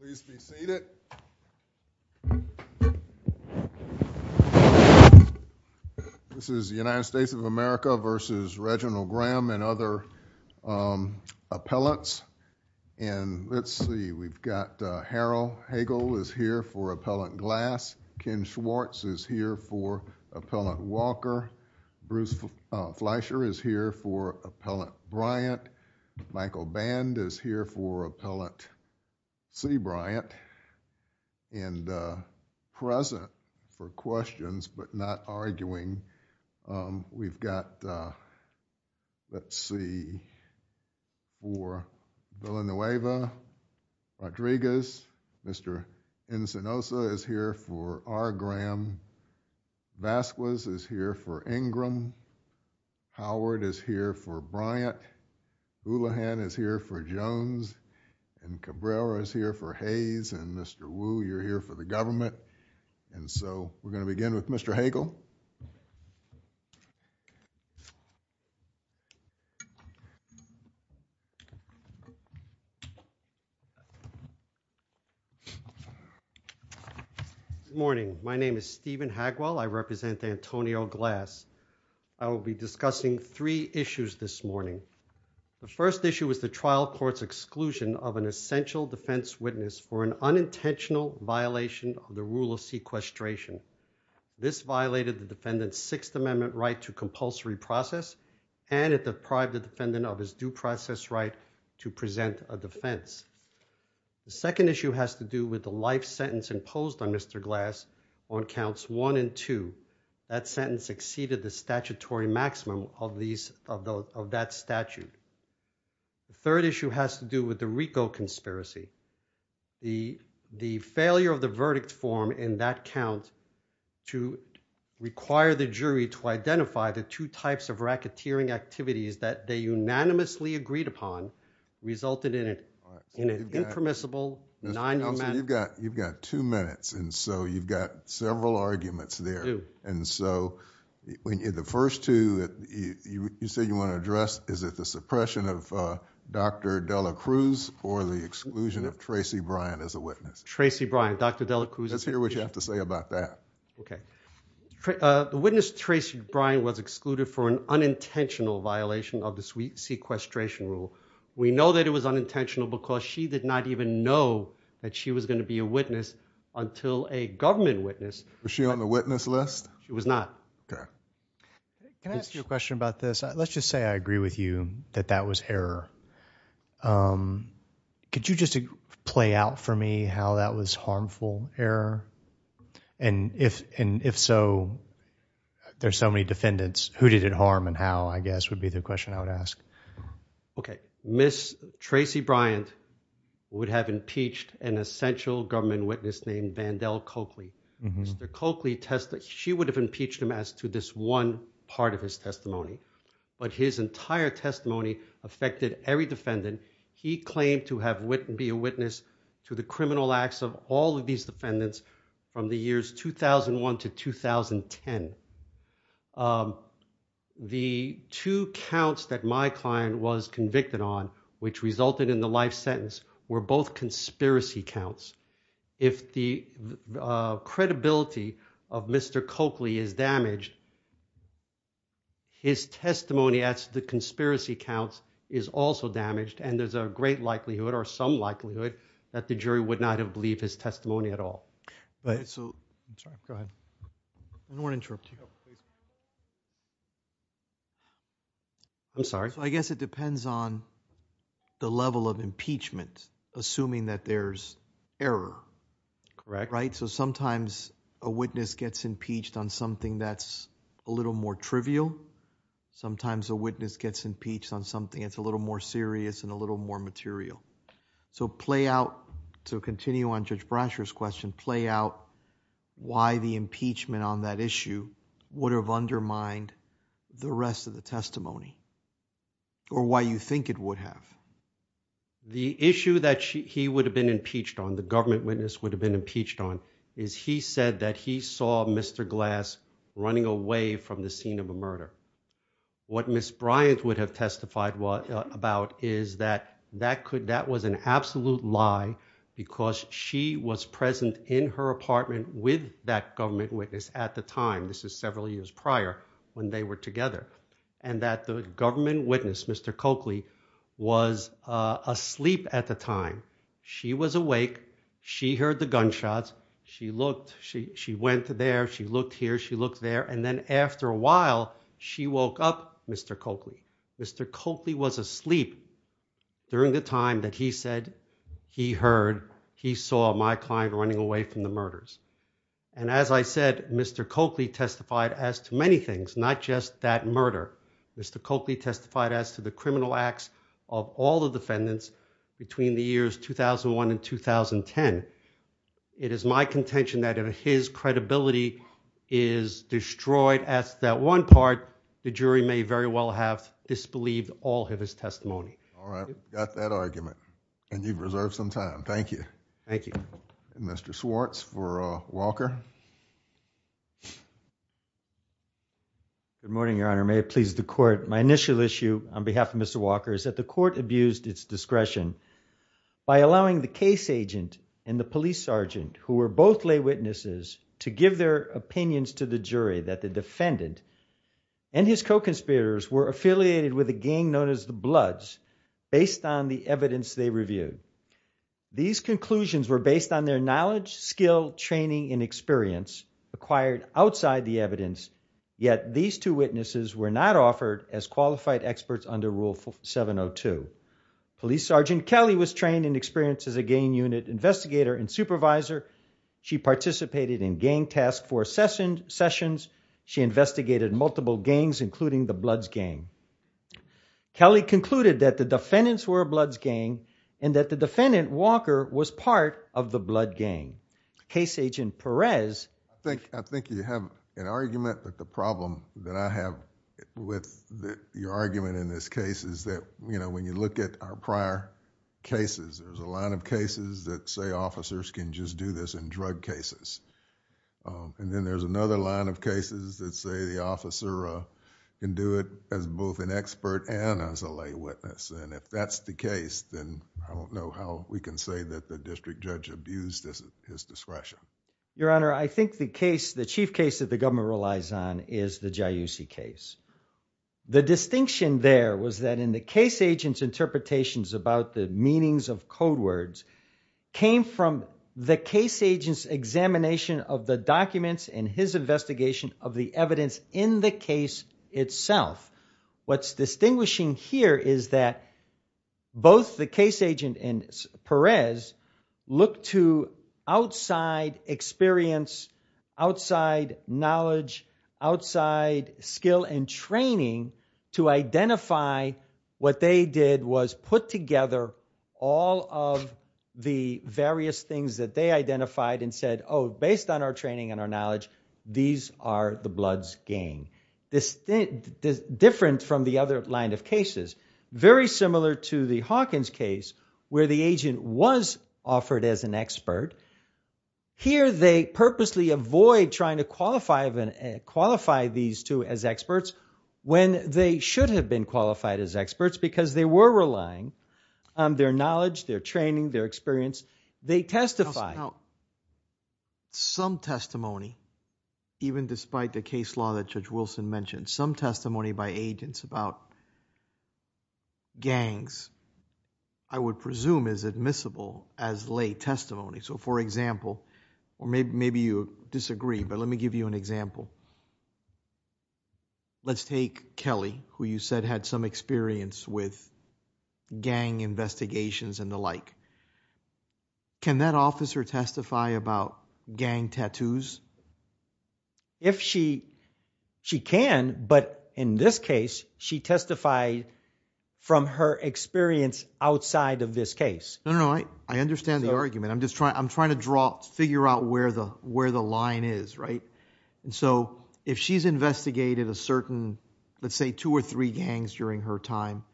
Please be seated. This is the United States of America v. Reginald Graham and other appellants and let's see we've got Harold Hagel is here for Appellant Glass, Ken Schwartz is here for Appellant Walker, Bruce Fleischer is here for Appellant C. Bryant and present for questions but not arguing we've got let's see for Villanueva, Rodriguez, Mr. Encinosa is here for R. Graham, Vasquez is here for Ingram, Howard is here for Bryant, Houlihan is here for Jones and Cabrera is here for Hayes and Mr. Wu you're here for the government and so we're going to begin with Mr. Hagel. Good morning. My name is Stephen Hagel. I represent Antonio Glass. I will be discussing three issues this morning. The first issue is the trial court's exclusion of an essential defense witness for an unintentional violation of rule of sequestration. This violated the defendant's Sixth Amendment right to compulsory process and it deprived the defendant of his due process right to present a defense. The second issue has to do with the life sentence imposed on Mr. Glass on counts one and two. That sentence exceeded the statutory maximum of that statute. The third issue has to do with the RICO conspiracy. The failure of the verdict form in that count to require the jury to identify the two types of racketeering activities that they unanimously agreed upon resulted in an impermissible... You've got two minutes and so you've got several arguments there and so the first two that you say you want to Tracey Bryan as a witness. Tracey Bryan, Dr. Delacruz. Let's hear what you have to say about that. Okay. The witness Tracey Bryan was excluded for an unintentional violation of the sequestration rule. We know that it was unintentional because she did not even know that she was going to be a witness until a government witness... Was she on the witness list? She was not. Okay. Can I ask you a question about this? Let's just say I agree with you that that was error. Could you just play out for me how that was harmful error? And if so, there's so many defendants, who did it harm and how, I guess, would be the question I would ask. Okay. Ms. Tracey Bryan would have impeached an essential government witness named Vandell Coakley. Mr. Coakley tested... She would have impeached him as to this one part of his testimony, but his entire testimony affected every defendant to be a witness to the criminal acts of all of these defendants from the years 2001 to 2010. The two counts that my client was convicted on, which resulted in the life sentence, were both conspiracy counts. If the credibility of Mr. Coakley is damaged, his testimony at the conspiracy counts is also damaged and there's a great likelihood or some likelihood that the jury would not have believed his testimony at all. I'm sorry. I guess it depends on the level of impeachment, assuming that there's error. Correct. Right? So sometimes a witness gets impeached on something that's a little more trivial. Sometimes a witness gets impeached on something that's a little more serious and a little more material. So play out, to continue on Judge Brasher's question, play out why the impeachment on that issue would have undermined the rest of the testimony or why you think it would have. The issue that he would have been impeached on, the government witness would have been impeached on, is he said that he saw Mr. Glass running away from the scene of a murder. What Ms. Bryant would have testified about is that that was an absolute lie because she was present in her apartment with that government witness at the time, this is several years prior when they were together, and that the government witness, Mr. Coakley, was asleep at the time. She was awake, she heard the gunshots, she looked, she went there, she looked here, she looked there, and then after a while she woke up Mr. Coakley. Mr. Coakley was asleep during the time that he said he heard he saw my client running away from the murders. And as I said, Mr. Coakley testified as to many things, not just that murder. Mr. Coakley testified as to the criminal acts of all the defendants between the years 2001 and 2010. It is my contention that if his credibility is destroyed at that one part, the jury may very well have disbelieved all of his testimony. All right, got that argument, and you've reserved some time. Thank you. Thank you. Mr. Swartz for Walker. Good morning, Your Honor. May it please the court, my initial issue on behalf of the jury's discretion, by allowing the case agent and the police sergeant, who were both lay witnesses, to give their opinions to the jury that the defendant and his co-conspirators were affiliated with a gang known as the Bloods based on the evidence they reviewed. These conclusions were based on their knowledge, skill, training, and experience acquired outside the evidence, yet these two witnesses were not offered as qualified experts under Rule 702. Police sergeant Kelly was trained and experienced as a gang unit investigator and supervisor. She participated in gang task force sessions. She investigated multiple gangs, including the Bloods gang. Kelly concluded that the defendants were a Bloods gang and that the defendant, Walker, was part of the Blood gang. Case agent Perez... I think you have an argument, but the problem that I have with your argument in this case is that when you look at our prior cases, there's a line of cases that say officers can just do this in drug cases. Then there's another line of cases that say the officer can do it as both an expert and as a lay witness. If that's the case, then I don't know how we can say that the district judge abused his discretion. Your Honor, I think the case, the chief case that the government relies on is the Giussi case. The distinction there was that in the case agent's interpretations about the meanings of code words came from the case agent's examination of the documents and his investigation of the evidence in the case itself. What's distinguishing here is that both the case agent and Perez looked to outside experience, outside knowledge, outside skill and training to identify what they did was put together all of the various things that they identified and said, oh, based on our training and our knowledge, these are the Bloods gang. Different from the other line of cases, very similar to the Hawkins case where the agent was offered as an expert. Here they purposely avoid trying to qualify these two as experts when they should have been qualified as experts because they were relying on their knowledge, their training, their experience. They testified. Some testimony, even despite the case law that Judge Wilson mentioned, some things I would presume is admissible as lay testimony. For example, or maybe you disagree, but let me give you an example. Let's take Kelly, who you said had some experience with gang investigations and the like. Can that officer testify about gang tattoos? If she can, but in this case, she testified from her experience outside of this case. No, I understand the argument. I'm trying to figure out where the line is. If she's investigated a certain, let's say two or three gangs during her time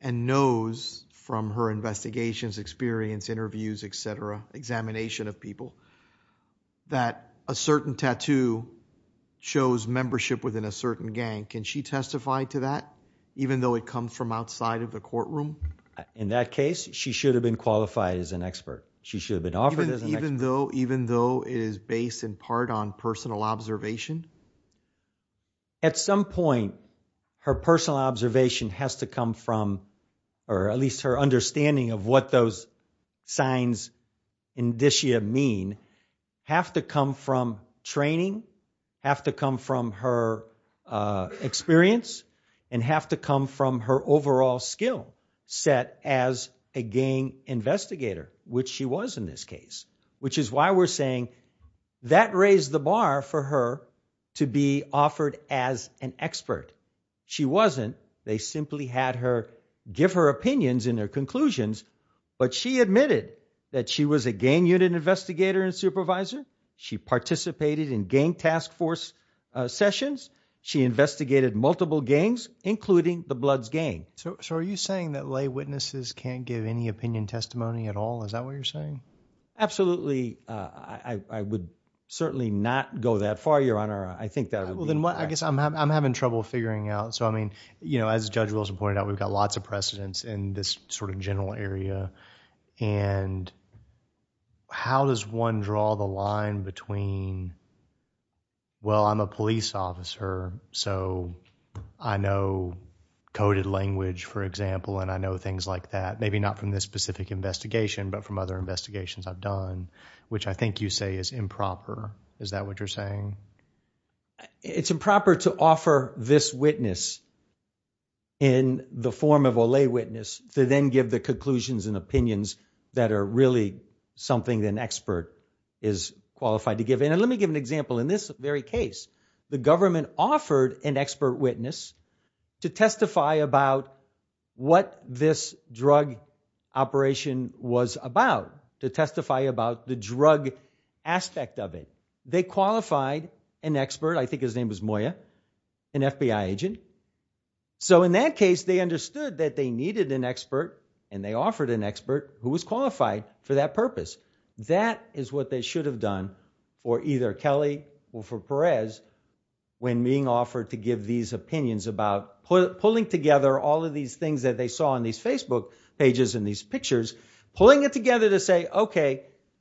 and knows from her investigations, experience, interviews, etc., examination of people that a certain tattoo shows membership within a certain gang, can she testify to that even though it comes from outside of the courtroom? In that case, she should have been qualified as an expert. She should have been offered as an expert. Even though it is based in part on personal observation? At some point, her personal observation has to come from, or at least her signs in this year mean, have to come from training, have to come from her experience, and have to come from her overall skill set as a gang investigator, which she was in this case, which is why we're saying that raised the bar for her to be offered as an expert. She wasn't. They simply had her give her conclusions, but she admitted that she was a gang unit investigator and supervisor. She participated in gang task force sessions. She investigated multiple gangs, including the Bloods gang. So are you saying that lay witnesses can't give any opinion testimony at all? Is that what you're saying? Absolutely. I would certainly not go that far, Your Honor. I think that would be incorrect. I guess I'm having trouble figuring out. As Judge Wilson pointed out, we've got lots of precedents in this sort of general area, and how does one draw the line between, well, I'm a police officer, so I know coded language, for example, and I know things like that. Maybe not from this specific investigation, but from other investigations I've done, which I think you say is improper. Is that what you're saying? It's improper to offer this witness in the form of a lay witness to then give the conclusions and opinions that are really something an expert is qualified to give. And let me give an example. In this very case, the government offered an expert witness to testify about what this drug operation was about, to testify about the drug aspect of it. They qualified an expert, I think his name was Moya, an FBI agent. So in that case, they understood that they needed an expert and they offered an expert who was qualified for that purpose. That is what they should have done, or either Kelly or Perez, when being offered to give these opinions about pulling together all of these things that they saw on this case.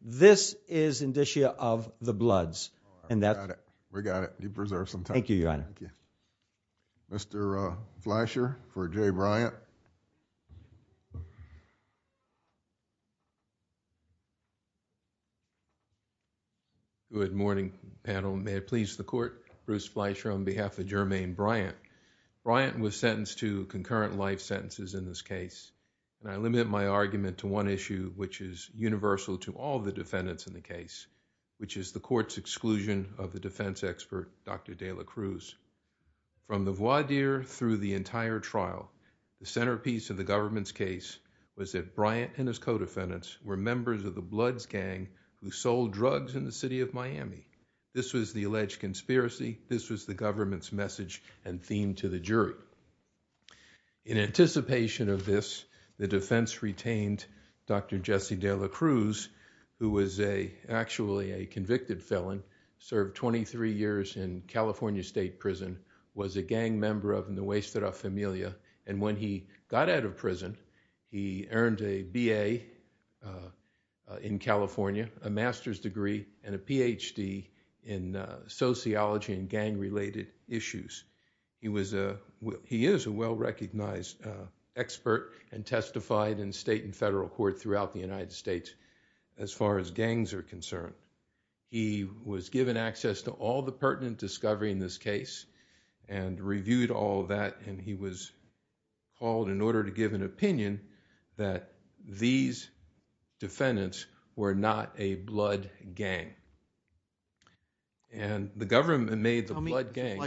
This is indicia of the bloods. We got it. You preserved some time. Thank you, Your Honor. Mr. Fleischer for J. Bryant. Good morning, panel. May it please the Court, Bruce Fleischer on behalf of Jermaine Bryant. Bryant was sentenced to concurrent life sentences in this case, and I limit my argument to one issue, which is universal to all the defendants in the case, which is the Court's exclusion of the defense expert, Dr. De La Cruz. From the voir dire through the entire trial, the centerpiece of the government's case was that Bryant and his co-defendants were members of the Bloods gang who sold drugs in the city of Miami. This was the alleged conspiracy. This was the government's message and theme to the jury. In anticipation of this, the defense retained Dr. Jesse De La Cruz, who was actually a convicted felon, served 23 years in California State Prison, was a gang member of En el Oeste de la Familia, and when he got out of prison, he earned a B.A. in California, a master's degree and a Ph.D. in sociology and gang-related issues. He is a well-recognized expert and testified in state and federal court throughout the United States as far as gangs are concerned. He was given access to all the pertinent discovery in this case and reviewed all of that, and he was called in order to give an opinion that these defendants were not a Blood gang. The government made the Blood gang......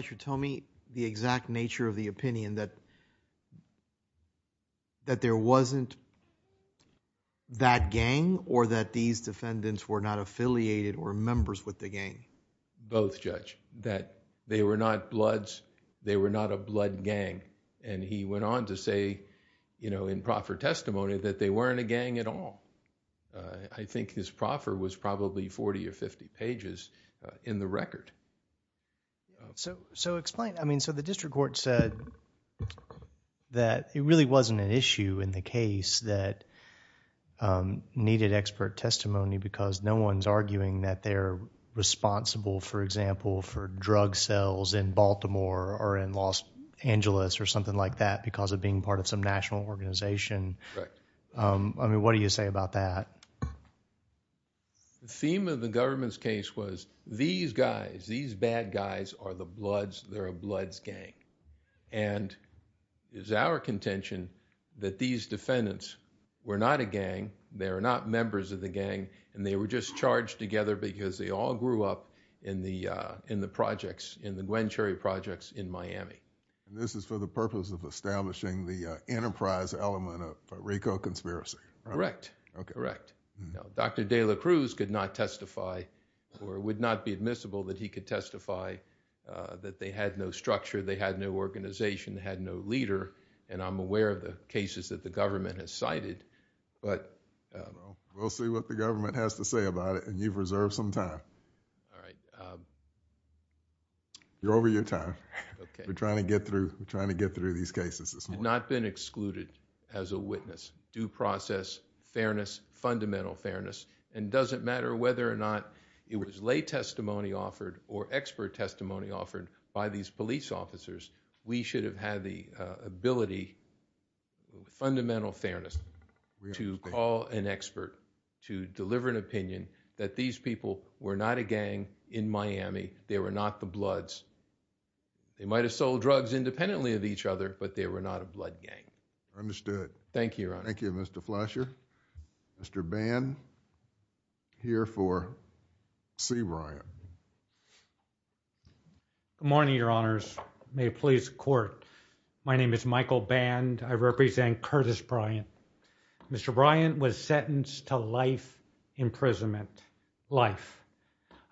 that there wasn't that gang or that these defendants were not affiliated or members with the gang? Both, Judge, that they were not Bloods, they were not a Blood gang. He went on to say in proffer testimony that they weren't a gang at all. I think his proffer was probably forty or fifty pages in the record. Explain. The district court said that it really wasn't an issue in the case that needed expert testimony because no one's arguing that they're responsible, for example, for drug sales in Baltimore or in Los Angeles or something like that because of being part of some national organization. What do you say about that? The theme of the government's case was these guys, these bad guys are the Bloods, they're a Bloods gang. It's our contention that these defendants were not a gang, they're not members of the gang, and they were just charged together because they all grew up in the projects, in the Gwen Cherry projects in Miami. This is for the purpose of establishing the enterprise element of the case. Dr. De La Cruz could not testify or would not be admissible that he could testify that they had no structure, they had no organization, they had no leader. I'm aware of the cases that the government has cited, but... We'll see what the government has to say about it and you've reserved some time. All right. You're over your time. Okay. We're trying to get through these cases this morning. We have not been excluded as a witness. Due process, fairness, fundamental fairness, and it doesn't matter whether or not it was lay testimony offered or expert testimony offered by these police officers, we should have had the ability, fundamental fairness, to call an expert, to deliver an opinion that these people were not a gang in Miami, they were not the Bloods. They might have sold drugs independently of each other, but they were not a blood gang. Understood. Thank you, Your Honor. Thank you, Mr. Flasher. Mr. Band, here for C. Bryant. Good morning, Your Honors. May it please the Court. My name is Michael Band. I represent Curtis Bryant. Mr. Bryant was sentenced to life imprisonment, life.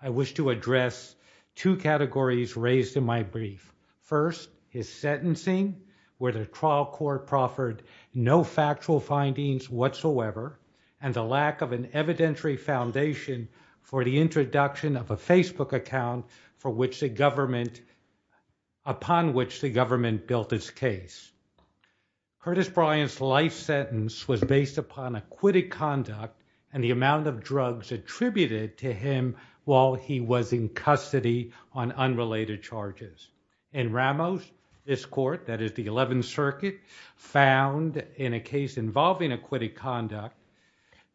I wish to address two categories raised in my brief. First, his trial court proffered no factual findings whatsoever and the lack of an evidentiary foundation for the introduction of a Facebook account for which the government, upon which the government built his case. Curtis Bryant's life sentence was based upon acquitted conduct and the amount of drugs attributed to him while he was in custody on unrelated charges. In Ramos, this court, that is the 11th Circuit, found in a case involving acquitted conduct,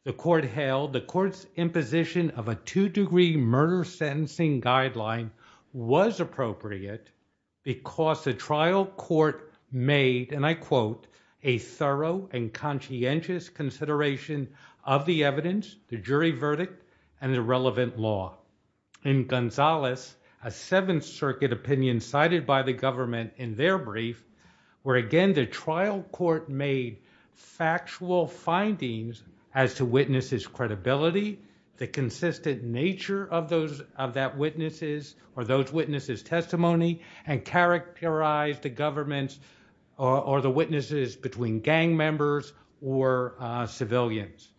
the court held the court's imposition of a two-degree murder sentencing guideline was appropriate because the trial court made, and I quote, a thorough and conscientious consideration of the evidence, the jury verdict, and the relevant law. In Gonzalez, a 7th Circuit opinion cited by the government in their brief, where again the trial court made factual findings as to witnesses' credibility, the consistent nature of those of that witnesses or those witnesses' testimony, and characterized the government's or the witnesses between gang members or civilians.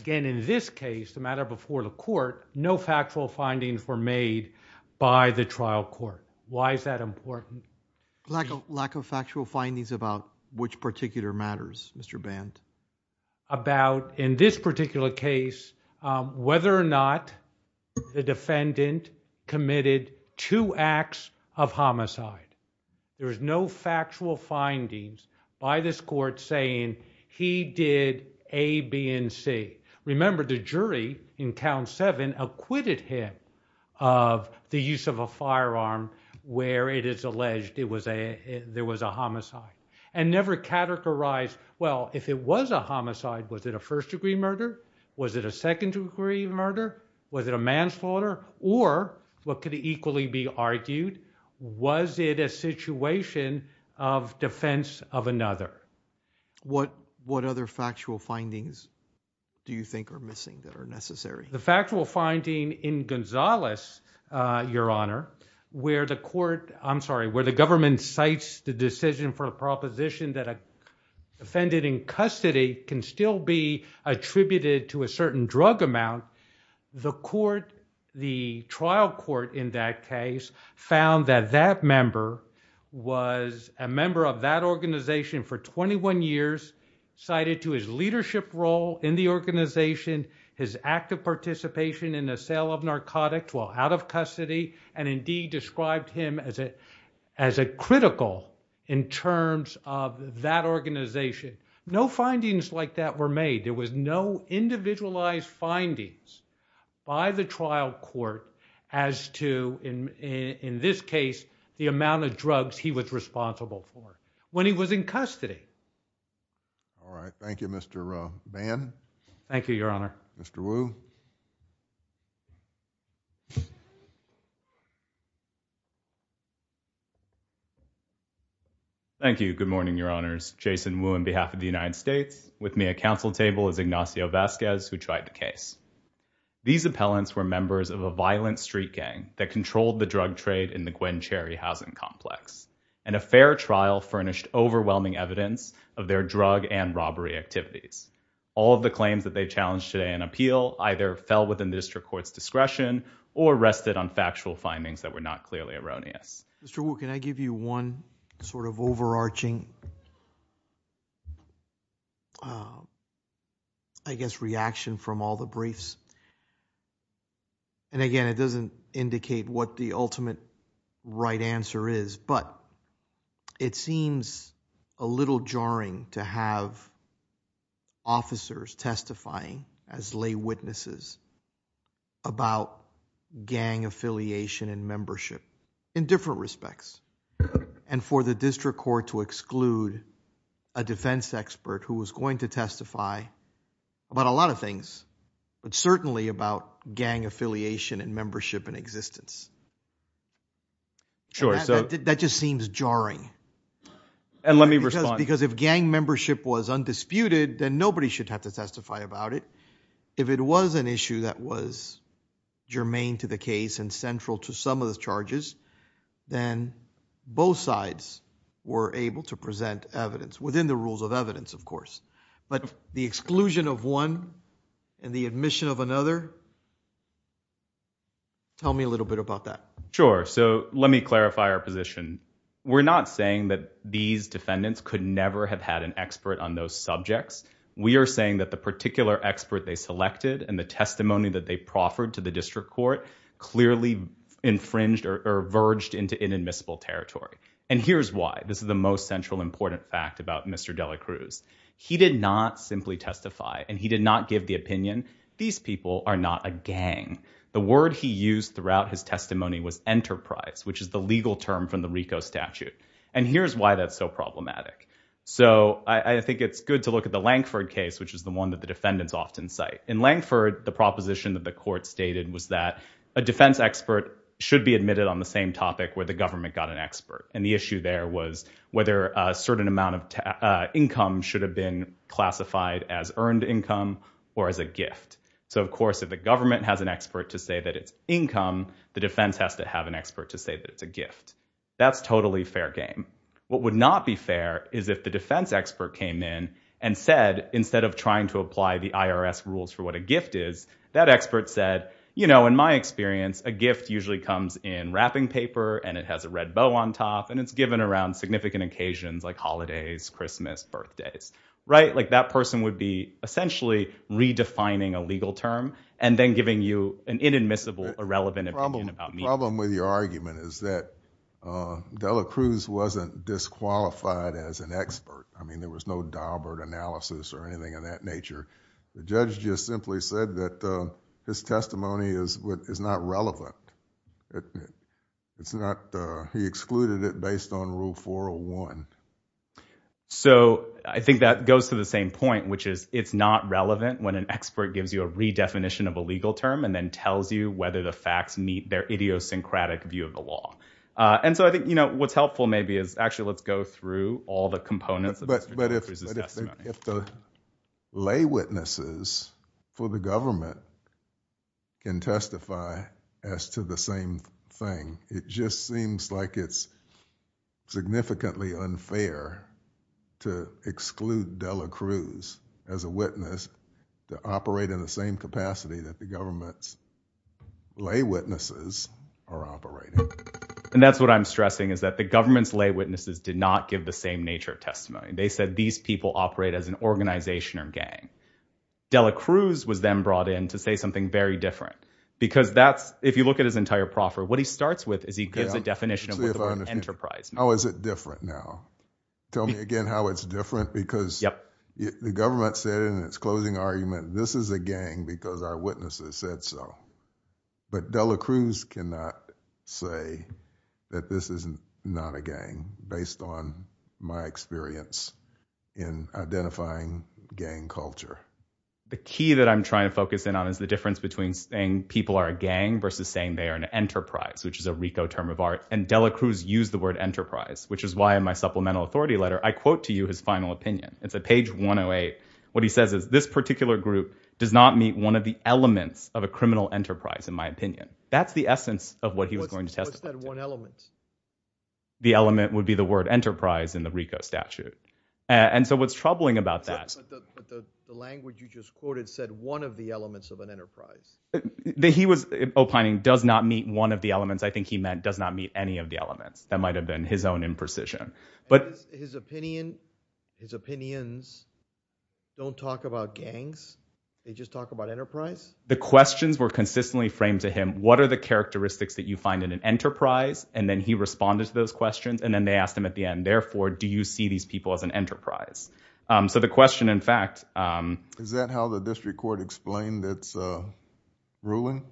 Again, in this case, the matter before the court, no factual findings were made by the trial court. Why is Dr. Ramos. Lack of factual findings about which particular matters, Mr. Band? Dr. Elmendorf. About, in this particular case, whether or not the defendant committed two acts of homicide. There is no factual findings by this court saying he did A, B, and C. Remember, the jury in count seven acquitted him of the use of a firearm where it is alleged there was a homicide, and never categorized, well, if it was a homicide, was it a first-degree murder? Was it a second-degree murder? Was it a manslaughter? Or, what could equally be argued? Was it a situation of defense of another? Dr. Ramos. What other factual findings do you think are missing that are Dr. Elmendorf. The factual finding in Gonzales, Your Honor, where the court, I'm sorry, where the government cites the decision for a proposition that a defendant in custody can still be attributed to a certain drug amount, the trial court in that case found that that member was a member of that organization for 21 years, cited to his leadership role in the organization, his active participation in the sale of narcotics while out of custody, and indeed described him as a critical in terms of that organization. No findings like that were made. There was no individualized findings by the trial court as to, in this case, the amount of drugs he was responsible for when he was in custody. All right, thank you, Mr. Band. Thank you, Your Honor. Mr. Wu. Thank you. Good morning, Your Honors. Jason Wu on behalf of the United States. With me at counsel table is Ignacio Vasquez, who tried the case. These appellants were members of a violent street gang that controlled the drug trade in the Gwen Cherry housing complex, and a fair trial furnished overwhelming evidence of their drug and robbery activities. All of the claims that they challenged today in appeal either fell within the district court's discretion or rested on factual findings that were not clearly erroneous. Mr. Vasquez, I guess reaction from all the briefs. Again, it doesn't indicate what the ultimate right answer is, but it seems a little jarring to have officers testifying as lay witnesses about gang affiliation and membership in different respects. For the district court to exclude a defense expert who was going to testify about a lot of things, but certainly about gang affiliation and membership in existence. Sure. So that just seems jarring. And let me respond. Because if gang membership was undisputed, then nobody should have to testify about it. If it was an issue that was germane to the case and central to some of the charges, then both sides were able to present evidence within the courts. But the exclusion of one and the admission of another, tell me a little bit about that. Sure. So let me clarify our position. We're not saying that these defendants could never have had an expert on those subjects. We are saying that the particular expert they selected and the testimony that they proffered to the district court clearly infringed or verged into inadmissible territory. And here's why. This is the most central important fact about Mr. Delacruz. He did not simply testify and he did not give the opinion, these people are not a gang. The word he used throughout his testimony was enterprise, which is the legal term from the RICO statute. And here's why that's so problematic. So I think it's good to look at the Lankford case, which is the one that the defendants often cite. In Lankford, the proposition that the court stated was that a defense expert should be admitted on the same topic where the government got an expert. And the issue there was whether a certain amount of income should have been classified as earned income or as a gift. So of course, if the government has an expert to say that it's income, the defense has to have an expert to say that it's a gift. That's totally fair game. What would not be fair is if the defense expert came in and said, instead of trying to apply the IRS rules for what a gift is, that expert said, you know, in my experience, a gift usually comes in wrapping paper and it has a red bow on top and it's given around significant occasions like holidays, Christmas, birthdays, right? Like that person would be essentially redefining a legal term and then giving you an inadmissible, irrelevant opinion about me. The problem with your argument is that Dela Cruz wasn't disqualified as an expert. I mean, there was no Daubert analysis or anything of that nature. The judge just excluded it based on rule 401. So I think that goes to the same point, which is it's not relevant when an expert gives you a redefinition of a legal term and then tells you whether the facts meet their idiosyncratic view of the law. And so I think, you know, what's helpful maybe is actually let's go through all the components of Dela Cruz's testimony. If the lay witnesses for the government can testify as to the same thing, it just seems like it's significantly unfair to exclude Dela Cruz as a witness to operate in the same capacity that the government's lay witnesses are operating. And that's what I'm stressing is that the government's lay witnesses did not give the same nature of testimony. They said these people operate as an organization or gang. Dela Cruz was then brought in to say something very different because that's if you look at his entire proffer, what he starts with is he gives a definition of enterprise. How is it different now? Tell me again how it's different, because the government said in its closing argument, this is a gang because our witnesses said so. But Dela Cruz cannot say that this is not a gang based on my experience in identifying gang culture. The key that I'm trying to focus in on is the difference between saying people are a gang versus saying they are an enterprise, which is a RICO term of art. And Dela Cruz used the word enterprise, which is why in my supplemental authority letter I quote to you his final opinion. It's a page 108. What he says is this particular group does not meet one of the elements of a enterprise, in my opinion. That's the essence of what he was going to testify. What's that one element? The element would be the word enterprise in the RICO statute. And so what's troubling about that. But the language you just quoted said one of the elements of an enterprise. He was opining does not meet one of the elements. I think he meant does not meet any of the elements. That might have been his own imprecision. But his opinion, his opinions don't talk about gangs. They just talk about enterprise. The questions were consistently framed to him. What are the characteristics that you find in an enterprise? And then he responded to those questions. And then they asked him at the end, therefore, do you see these people as an enterprise? So the question, in fact. Is that how the district court explained its ruling?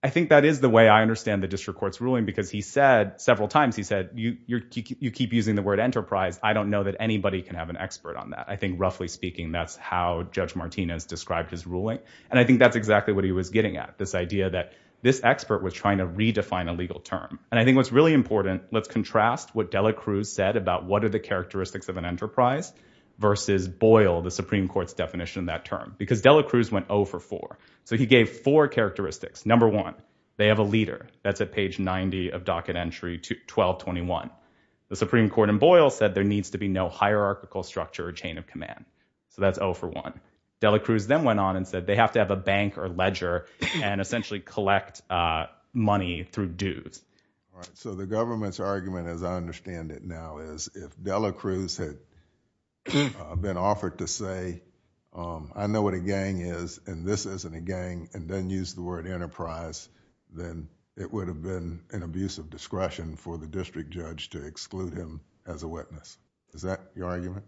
I think that is the way I understand the district court's ruling, because he said several times he said, you keep using the word enterprise. I don't know that anybody can have an expert on that. I think roughly speaking, that's how Judge Martinez described his ruling. And I think that's exactly what he was getting at, this idea that this expert was trying to redefine a legal term. And I think what's really important, let's contrast what Dela Cruz said about what are the characteristics of an enterprise versus Boyle, the Supreme Court's definition of that term, because Dela Cruz went 0 for 4. So he gave four characteristics. Number one, they have a leader. That's at page 90 of docket entry 1221. The Supreme Court in Boyle said there needs to be no hierarchical structure or chain of command. So that's 0 for 1. Dela Cruz then went on and said they have to have a bank or ledger and essentially collect money through dues. So the government's argument, as I understand it now, is if Dela Cruz had been offered to say, I know what a gang is and this isn't a gang and then use the word enterprise, then it would have been an abuse of discretion for the district judge to exclude him as a witness. Is that your argument?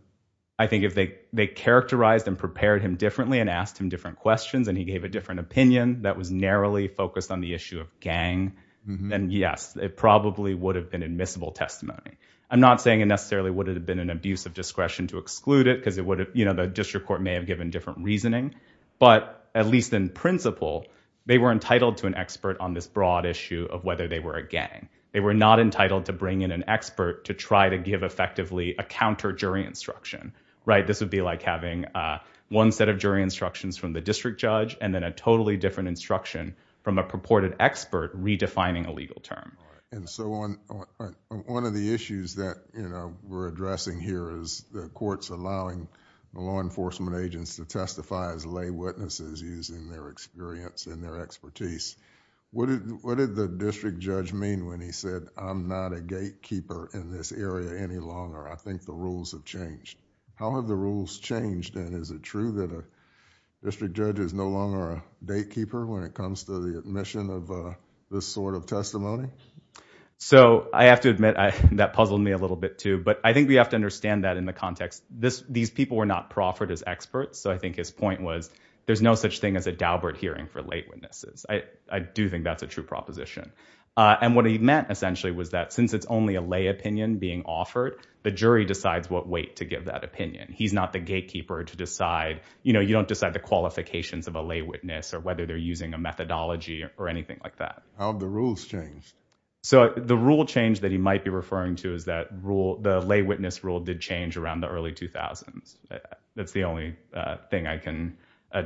I think if they characterized and prepared him differently and asked him different questions and he gave a different opinion that was narrowly focused on the issue of gang, then yes, it probably would have been admissible testimony. I'm not saying it necessarily would have been an abuse of discretion to exclude it because it would have, you know, the district court may have given different reasoning. But at least in principle, they were entitled to an expert on this broad issue of whether they were a gang. They were not entitled to bring in an expert to try to give effectively a counter jury instruction, right? This would be like having one set of jury instructions from the district judge and then a totally different instruction from a purported expert redefining a legal term. And so on one of the issues that we're addressing here is the courts allowing the law enforcement agents to testify as lay witnesses using their experience and their expertise. What did the district judge mean when he said, I'm not a gatekeeper in this area any longer. I think the rules have changed. How have the rules changed? And is it true that a district judge is no longer a gatekeeper when it comes to the admission of this sort of testimony? So I have to admit that puzzled me a little bit, too. But I think we have to understand that in the context, these people were not proffered as experts. So I think his point was there's no such thing as a Daubert hearing for lay witnesses. I do think that's a true proposition. And what he meant, essentially, was that since it's only a lay opinion being offered, the jury decides what weight to give that opinion. He's not the gatekeeper to decide. You know, you don't decide the qualifications of a lay witness or whether they're using a methodology or anything like that. How have the rules changed? So the rule change that he might be referring to is that the lay witness rule did change around the early 2000s. That's the only thing I can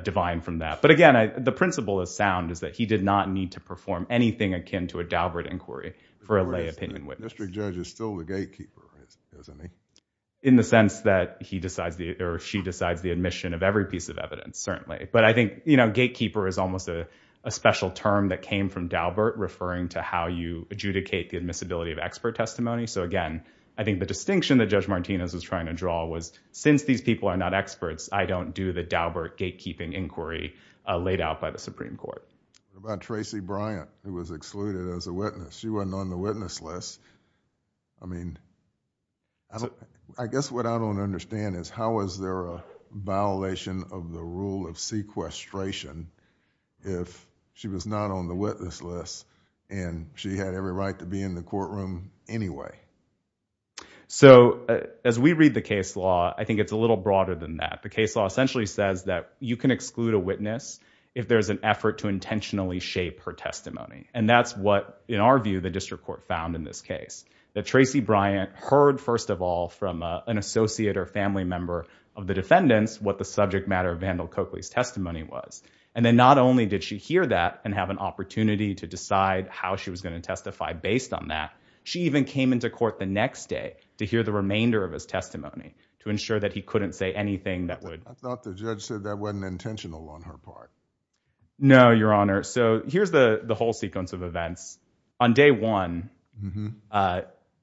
divine from that. But again, the principle is sound, is that he did not need to perform anything akin to a Daubert inquiry for a lay opinion witness. District judge is still the gatekeeper, isn't he? In the sense that he decides the or she decides the admission of every piece of evidence, certainly. But I think gatekeeper is almost a special term that came from Daubert, referring to how you adjudicate the admissibility of expert testimony. So, again, I think the distinction that Judge Martinez was trying to draw was since these people are not experts, I don't do the Daubert gatekeeping inquiry laid out by the Supreme Court. About Tracy Bryant, who was excluded as a witness, she wasn't on the witness list. I mean. I guess what I don't understand is how is there a violation of the rule of sequestration if she was not on the witness list and she had every right to be in the courtroom anyway? So as we read the case law, I think it's a little broader than that. The case law essentially says that you can exclude a witness if there is an effort to intentionally shape her testimony. And that's what, in our view, the district court found in this case that Tracy Bryant heard, first of all, from an associate or family member of the defendants, what the subject matter of Vandal Coakley's testimony was. And then not only did she hear that and have an opportunity to decide how she was going to testify based on that, she even came into court the next day to hear the remainder of his testimony to ensure that he couldn't say anything that would. I thought the judge said that wasn't intentional on her part. No, Your Honor. So here's the whole sequence of events on day one.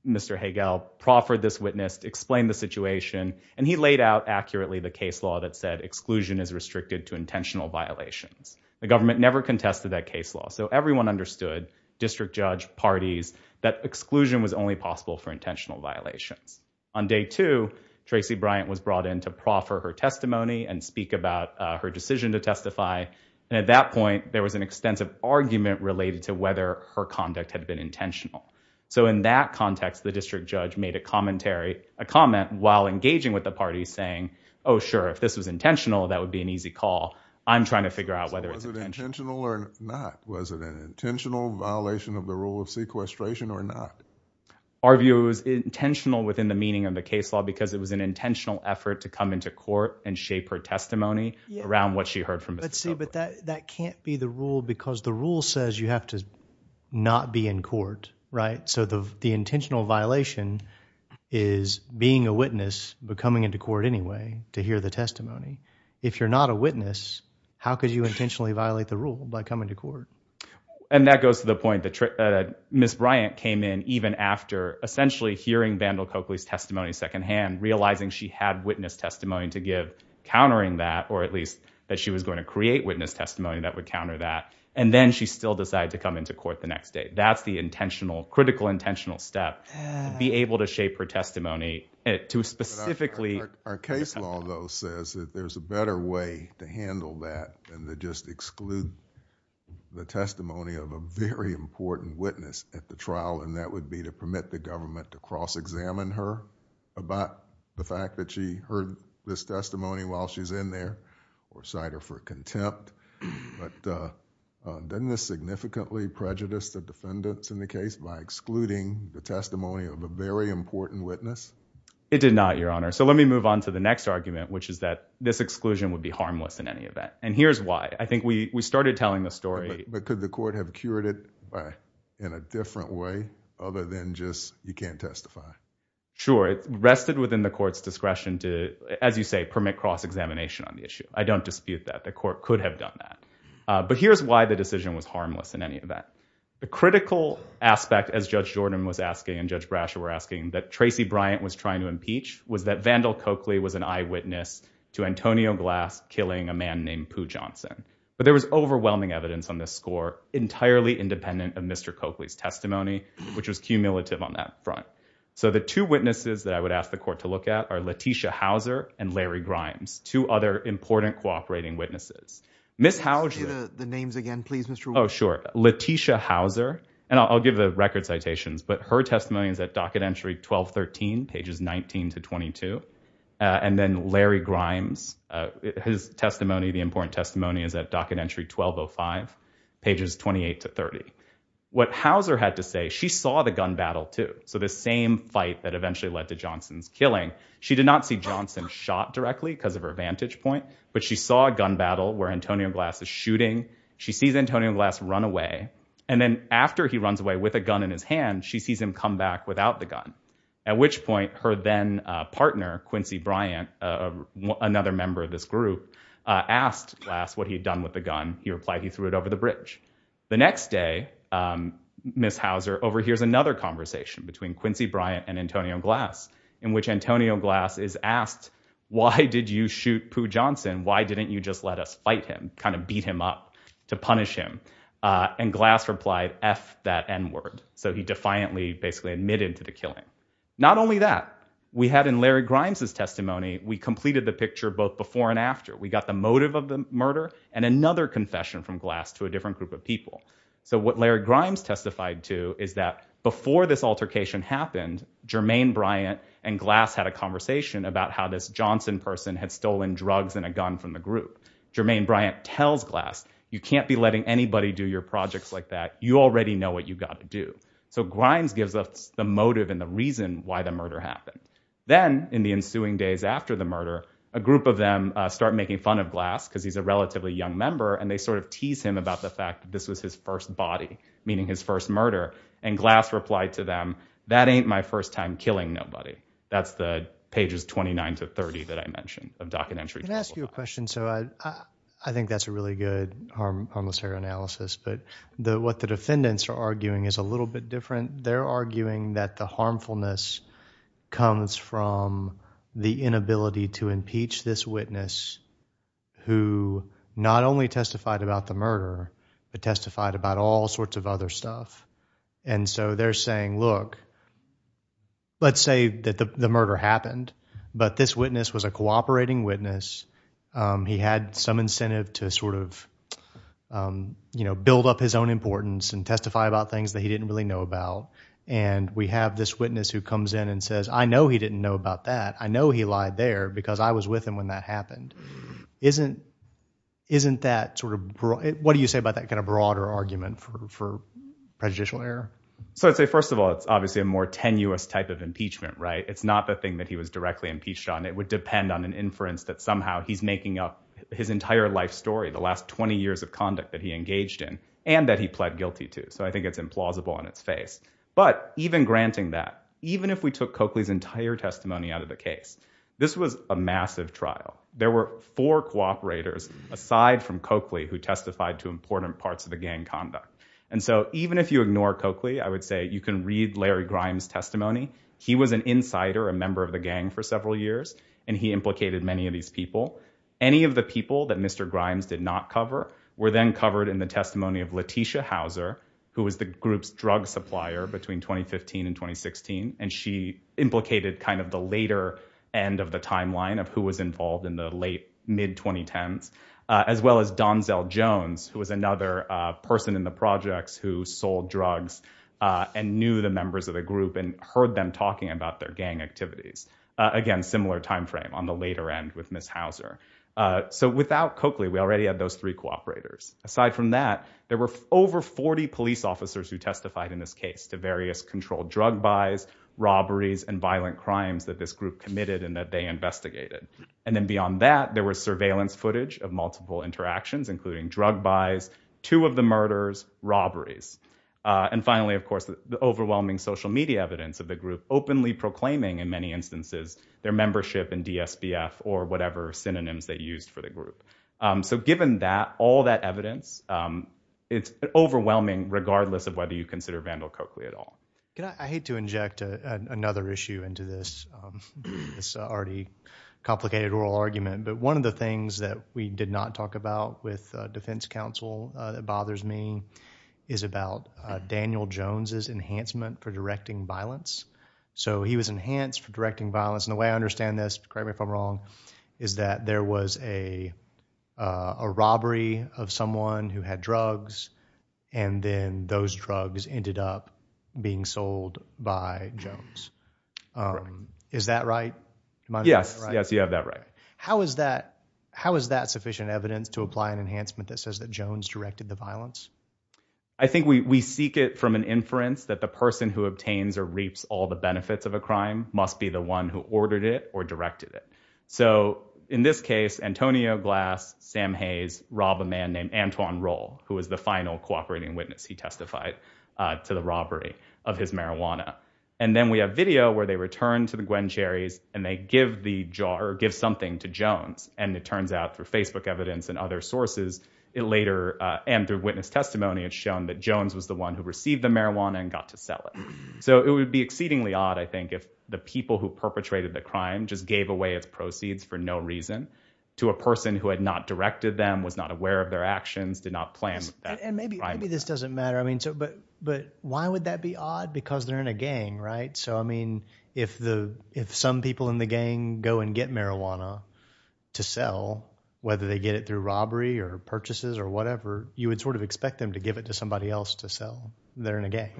Mr. Hagel proffered this witness to explain the situation, and he laid out accurately the case law that said exclusion is restricted to intentional violations. The government never contested that case law. So everyone understood, district judge, parties, that exclusion was only possible for intentional violations. On day two, Tracy Bryant was brought in to proffer her testimony and speak about her decision to testify. And at that point, there was an extensive argument related to whether her conduct had been intentional. So in that context, the district judge made a commentary, a comment while engaging with the parties saying, oh, sure, if this was intentional, that would be an easy call. I'm trying to figure out whether it's intentional or not. Was it an intentional violation of the rule of sequestration or not? Our view is intentional within the meaning of the case law because it was an intentional effort to come into court and shape her testimony around what she heard from Mr. Hagel. But that can't be the rule because the rule says you have to not be in court, right? So the intentional violation is being a witness, but coming into court anyway to hear the testimony. If you're not a witness, how could you intentionally violate the rule by coming to court? And that goes to the point that Ms. Bryant came in even after essentially hearing Vandal Coakley's testimony secondhand, realizing she had witness testimony to give, countering that, or at least that she was going to create witness testimony that would counter that. And then she still decided to come into court the next day. That's the intentional, critical, intentional step to be able to shape her testimony to specifically. Our case law, though, says that there's a better way to handle that than to just exclude the testimony of a very important witness at the trial, and that would be to permit the government to cross-examine her about the fact that she heard this testimony while she's in there or cite her for contempt. But doesn't this significantly prejudice the defendants in the case by excluding the testimony of a very important witness? It did not, Your Honor. So let me move on to the next argument, which is that this exclusion would be harmless in any event. And here's why. I think we started telling the story. But could the court have cured it in a different way other than just you can't testify? Sure. It rested within the court's discretion to, as you say, permit cross-examination on the issue. I don't dispute that the court could have done that. But here's why the decision was harmless in any event. The critical aspect, as Judge Jordan was asking and Judge Brasher were asking, that Tracy Bryant was trying to impeach was that Vandal Coakley was an eyewitness to Antonio Glass killing a man named Pooh Johnson. But there was overwhelming evidence on this score entirely independent of Mr. Coakley's testimony, which was cumulative on that front. So the two witnesses that I would ask the court to look at are Letitia Houser and Larry Grimes, two other important cooperating witnesses. Ms. Houser, the names again, please, Mr. Oh, sure. Letitia Houser. And I'll give the record citations. But her testimony is at Docket Entry 1213, pages 19 to 22. And then Larry Grimes, his testimony, the important testimony is at Docket Entry 1205, pages 28 to 30. What Houser had to say, she saw the gun battle, too. So the same fight that eventually led to Johnson's killing, she did not see Johnson shot directly because of her vantage point, but she saw a gun battle where Antonio Glass is shooting. She sees Antonio Glass run away. And then after he runs away with a gun in his hand, she sees him come back without the gun. And then the next day, Houser's partner, Quincy Bryant, another member of this group, asked Glass what he had done with the gun. He replied he threw it over the bridge. The next day, Ms. Houser overhears another conversation between Quincy Bryant and Antonio Glass, in which Antonio Glass is asked, why did you shoot Pooh Johnson? Why didn't you just let us fight him, kind of beat him up to punish him? And Glass replied, F that N word. So he defiantly basically admitted to the killing. Not only that, we had in Larry Grimes' testimony, we completed the picture both before and after. We got the motive of the murder and another confession from Glass to a different group of people. So what Larry Grimes testified to is that before this altercation happened, Jermaine Bryant and Glass had a conversation about how this Johnson person had stolen drugs and a gun from the group. Jermaine Bryant tells Glass, you can't be letting anybody do your projects like that. You already know what you've got to do. So Grimes gives us the motive and the reason why the murder happened. Then in the ensuing days after the murder, a group of them start making fun of Glass because he's a relatively young member. And they sort of tease him about the fact that this was his first body, meaning his first murder. And Glass replied to them, that ain't my first time killing nobody. That's the pages 29 to 30 that I mentioned of documentary. Can I ask you a question? So I think that's a really good harmless error analysis. But what the defendants are arguing is a little bit different. They're arguing that the harmfulness comes from the inability to impeach this witness who not only testified about the murder, but testified about all sorts of other stuff. And so they're saying, look, let's say that the murder happened, but this witness was a cooperating witness. He had some incentive to sort of, you know, build up his own importance and testify about things that he didn't really know about. And we have this witness who comes in and says, I know he didn't know about that. I know he lied there because I was with him when that happened. Isn't isn't that sort of what do you say about that kind of broader argument for prejudicial error? So I'd say, first of all, it's obviously a more tenuous type of impeachment, right? It's not the thing that he was directly impeached on. It would depend on an inference that somehow he's making up his entire life story, the last 20 years of conduct that he engaged in and that he pled guilty to. So I think it's implausible on its face. But even granting that, even if we took Coakley's entire testimony out of the case, this was a massive trial. There were four cooperators aside from Coakley who testified to important parts of the gang conduct. And so even if you ignore Coakley, I would say you can read Larry Grimes testimony. He was an insider, a member of the gang for several years. And he implicated many of these people. Any of the people that Mr. Grimes did not cover were then covered in the testimony of Letitia Houser, who was the group's drug supplier between 2015 and 2016. And she implicated kind of the later end of the timeline of who was involved in the late mid 2010s, as well as Donzel Jones, who was another person in the projects who sold drugs and knew the members of the group and heard them talking about their gang activities. Again, similar time frame on the later end with Ms. Houser. So without Coakley, we already had those three cooperators. Aside from that, there were over 40 police officers who testified in this case to various controlled drug buys, robberies and violent crimes that this group committed and that they investigated. And then beyond that, there was surveillance footage of multiple interactions, including drug buys, two of the murders, robberies. And finally, of course, the overwhelming social media evidence of the group openly proclaiming in many instances their membership in DSBF or whatever synonyms they used for the group. So given that, all that evidence, it's overwhelming, regardless of whether you consider Vandal Coakley at all. I hate to inject another issue into this already complicated oral argument, but one of the things that we did not talk about with defense counsel that bothers me is about Daniel Jones's enhancement for directing violence. So he was enhanced for directing violence. And the way I understand this, correct me if I'm wrong, is that there was a robbery of someone who had drugs and then those drugs ended up being sold by Jones. Is that right? Yes. Yes, you have that right. How is that how is that sufficient evidence to apply an enhancement that says that Jones directed the violence? I think we seek it from an inference that the person who obtains or reaps all the benefits of a crime must be the one who ordered it or directed it. So in this case, Antonio Glass, Sam Hayes, rob a man named Antoine Roll, who is the final cooperating witness. He testified to the robbery of his marijuana. And then we have video where they return to the Gwencherries and they give the jar or give something to Jones. And it turns out through Facebook evidence and other sources, it later and through witness testimony, it's shown that Jones was the one who received the marijuana and got to sell it. So it would be exceedingly odd, I think, if the people who perpetrated the crime just gave away its proceeds for no reason to a person who had not directed them, was not aware of their actions, did not plan that. And maybe this doesn't matter. I mean, but but why would that be odd? Because they're in a gang, right? So, I mean, if the if some people in the gang go and get marijuana to sell, whether they get it through robbery or purchases or whatever, you would sort of expect them to give it to somebody else to sell there in a gang.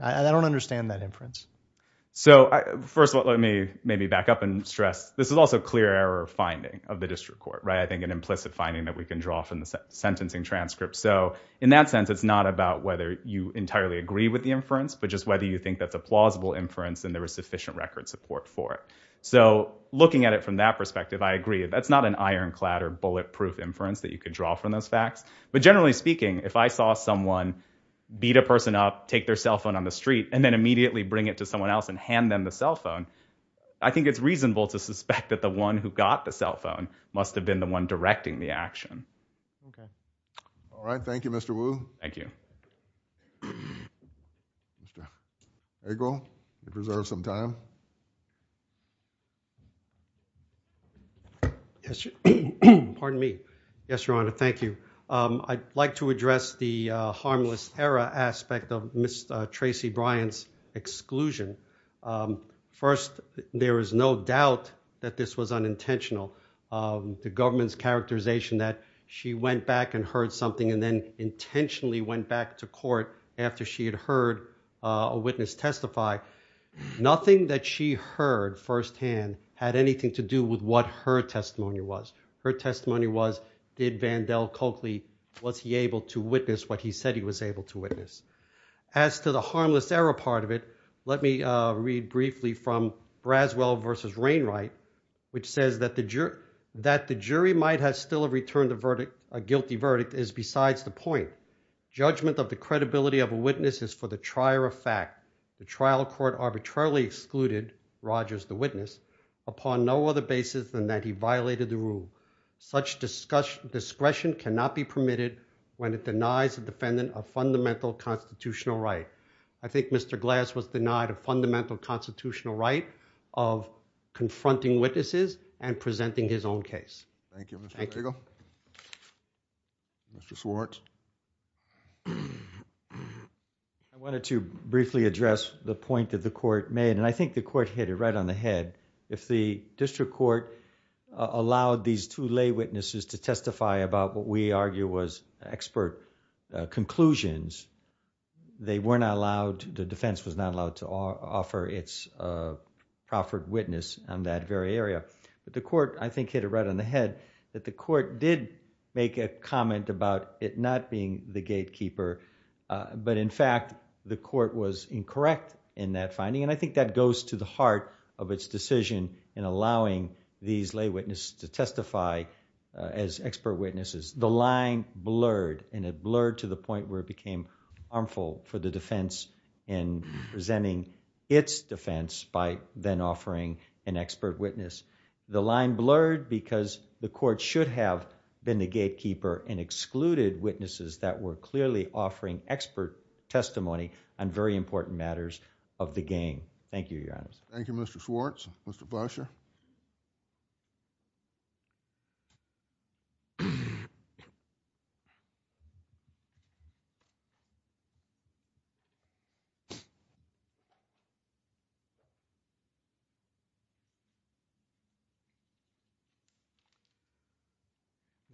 I don't understand that inference. So first of all, let me maybe back up and stress this is also clear error finding of the district court, right? I think an implicit finding that we can draw from the sentencing transcript. So in that sense, it's not about whether you entirely agree with the inference, but just whether you think that's a plausible inference and there is sufficient record support for it. So looking at it from that perspective, I agree. That's not an ironclad or bulletproof inference that you could draw from those facts. But generally speaking, if I saw someone beat a person up, take their cell phone on the street and then immediately bring it to someone else and hand them the cell phone, I think it's reasonable to suspect that the one who got the cell phone must have been the one directing the action. All right. Thank you, Mr. Wu. Thank you. Mr. Egle, you reserve some time. Yes. Pardon me. Yes, Your Honor. Thank you. I'd like to address the harmless error aspect of Miss Tracy Bryant's exclusion. First, there is no doubt that this was unintentional. The government's characterization that she went back and heard something and then intentionally went back to court after she had heard a witness testify, nothing that she heard firsthand had anything to do with what her testimony was. Her testimony was, did Vandell Coakley, was he able to witness what he said he was able to witness? As to the harmless error part of it, let me read briefly from Braswell versus Wainwright, which says that the jury might have still have returned a guilty verdict is besides the point. Judgment of the credibility of a witness is for the trier of fact. The trial court arbitrarily excluded Rogers, the witness upon no other basis than that he violated the rule. Such discussion discretion cannot be permitted when it denies the defendant a fundamental constitutional right. I think Mr. Glass was denied a fundamental constitutional right of confronting witnesses and presenting his own case. Thank you, Mr. Egle. Mr. Swartz. I wanted to briefly address the point that the court made and I think the court hit it right on the head. If the district court allowed these two lay witnesses to testify about what we argue was expert conclusions, they were not allowed, the defense was not allowed to offer its proffered witness on that very area. But the court, I think, hit it right on the head that the court did make a comment about it not being the gatekeeper, but in fact, the court was incorrect in that finding and I think that goes to the heart of its decision in allowing these lay witnesses to testify as expert witnesses. The line blurred and it blurred to the point where it became harmful for the defense in presenting its defense by then offering an expert witness. The line blurred because the court should have been the gatekeeper and excluded witnesses that were clearly offering expert testimony on very important matters of the game. Thank you, Your Honor. Thank you, Mr. Swartz. Mr. Boucher.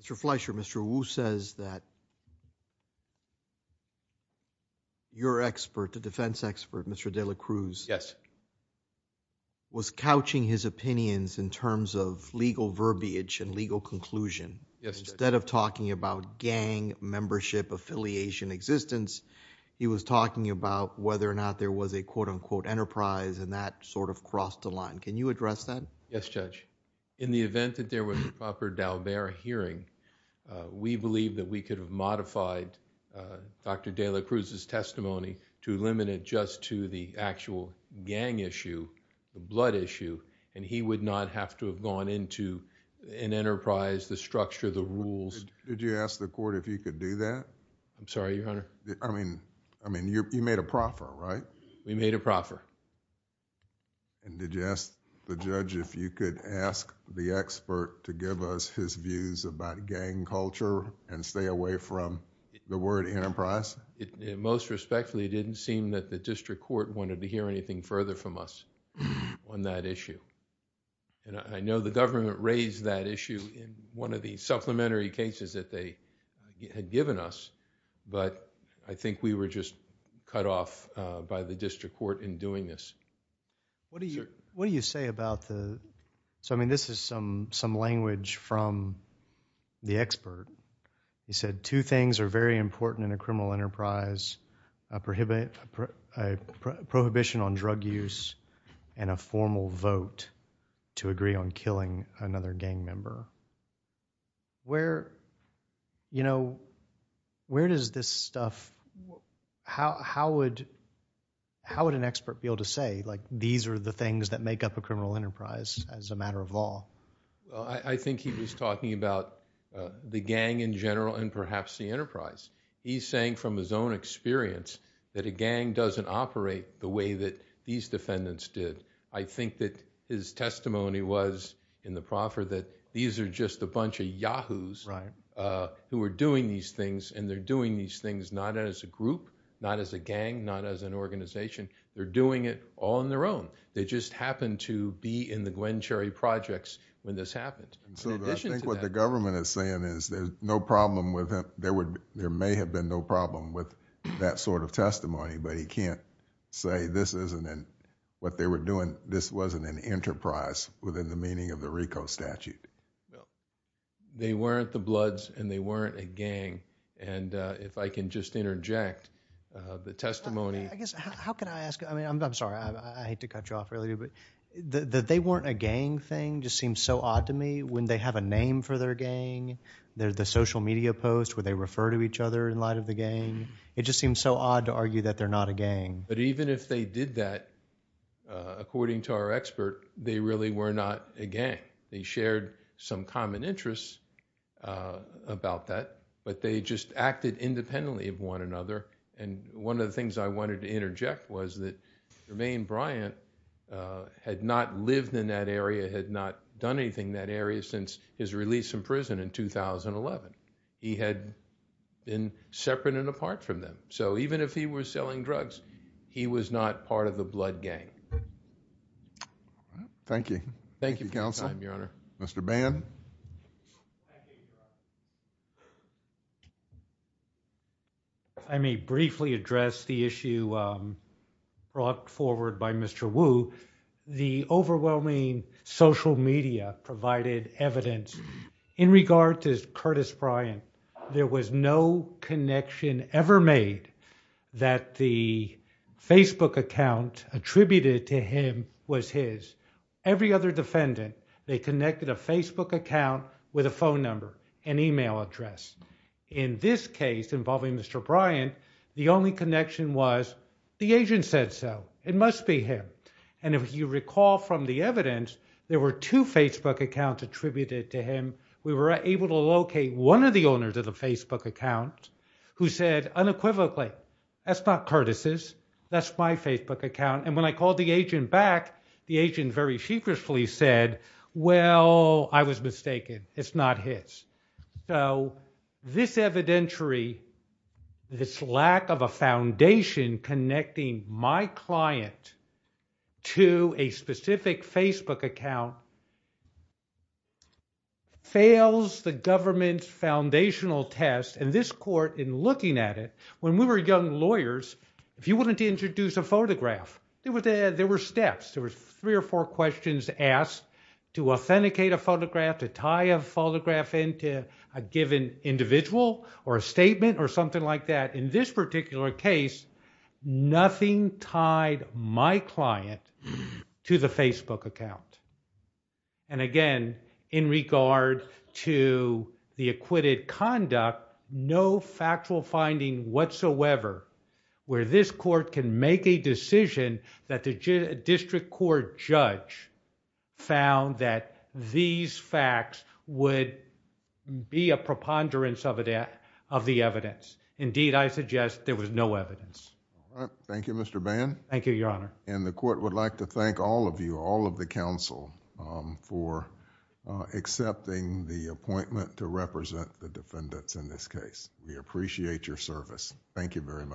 Mr. Fleischer, Mr. Wu says that your expert, the defense expert, Mr. de la Cruz, was couching his opinions in terms of legal verbiage and legal conclusion. Instead of talking about gang membership affiliation existence, he was talking about whether or not there was a quote unquote enterprise and that sort of crossed the line. Can you address that? Yes, Judge. In the event that there was a proper Dalbert hearing, we believe that we could have modified Dr. de la Cruz's testimony to limit it just to the actual gang issue, the blood issue, and he would not have to have gone into an enterprise, the structure, the rules... Did you ask the court if he could do that? I'm sorry, Your Honor. We made a proffer. Did you ask the judge if you could ask the expert to give us his views about gang culture and stay away from the word enterprise? It most respectfully didn't seem that the district court wanted to hear anything further from us on that issue. I know the government raised that issue in one of the supplementary cases that they had given us, but I think we were just cut off by the district court in doing this. What do you say about the... I mean, this is some language from the expert. He said, two things are very important in a criminal enterprise, a prohibition on drug use and a formal vote to agree on killing another gang member. Where does this stuff... how would an expert be able to say, like, these are the things that make up a criminal enterprise as a matter of law? I think he was talking about the gang in general and perhaps the enterprise. He's saying from his own experience that a gang doesn't operate the way that these defendants did. I think that his testimony was in the proffer that these are just a bunch of yahoos who are doing these things, and they're doing these things not as a group, not as a gang, not as an organization. They're doing it all on their own. They just happened to be in the Gwen Cherry projects when this happened. So I think what the government is saying is there's no problem with him. There may have been no problem with that sort of testimony, but he can't say this isn't what they were doing. This wasn't an enterprise within the meaning of the RICO statute. They weren't the Bloods, and they weren't a gang. And if I can just interject, the testimony... I guess, how can I ask? I mean, I'm sorry. I hate to cut you off earlier, but the they weren't a gang thing just seems so odd to me when they have a name for their gang. They're the social media post where they refer to each other in light of the gang. It just seems so odd to argue that they're not a gang. But even if they did that, according to our expert, they really were not a gang. They shared some common interests about that, but they just acted independently of one another. And one of the things I wanted to interject was that Romain Bryant had not lived in that area, had not done anything in that area since his release from prison in 2011. He had been separate and apart from them. So even if he was selling drugs, he was not part of the Blood Gang. Thank you. Thank you for your time, Your Honor. Mr. Band? I may briefly address the issue brought forward by Mr. Wu. The overwhelming social media provided evidence in regard to Curtis Bryant. There was no connection ever made that the Facebook account attributed to him was his, every other defendant. They connected a Facebook account with a phone number and email address. In this case involving Mr. Bryant, the only connection was the agent said so it must be him. And if you recall from the evidence, there were two Facebook accounts attributed to him. We were able to locate one of the owners of the Facebook account who said unequivocally, that's not Curtis's, that's my Facebook account. And when I called the agent back, the agent very secretly said, well, I was mistaken, it's not his. So this evidentiary, this lack of a foundation connecting my client to a Facebook account fails the government's foundational test. And this court in looking at it, when we were young lawyers, if you wanted to introduce a photograph, there were steps, there were three or four questions asked to authenticate a photograph, to tie a photograph into a given individual or a statement or something like that. In this particular case, nothing tied my client to the Facebook account. And again, in regard to the acquitted conduct, no factual finding whatsoever where this court can make a decision that the district court judge found that these facts would be a preponderance of the evidence. Indeed, I suggest there was no evidence. Thank you, Mr. Bann. Thank you, Your Honor. And the court would like to thank all of you, all of the counsel for accepting the appointment to represent the defendants in this case. We appreciate your service. Thank you very much.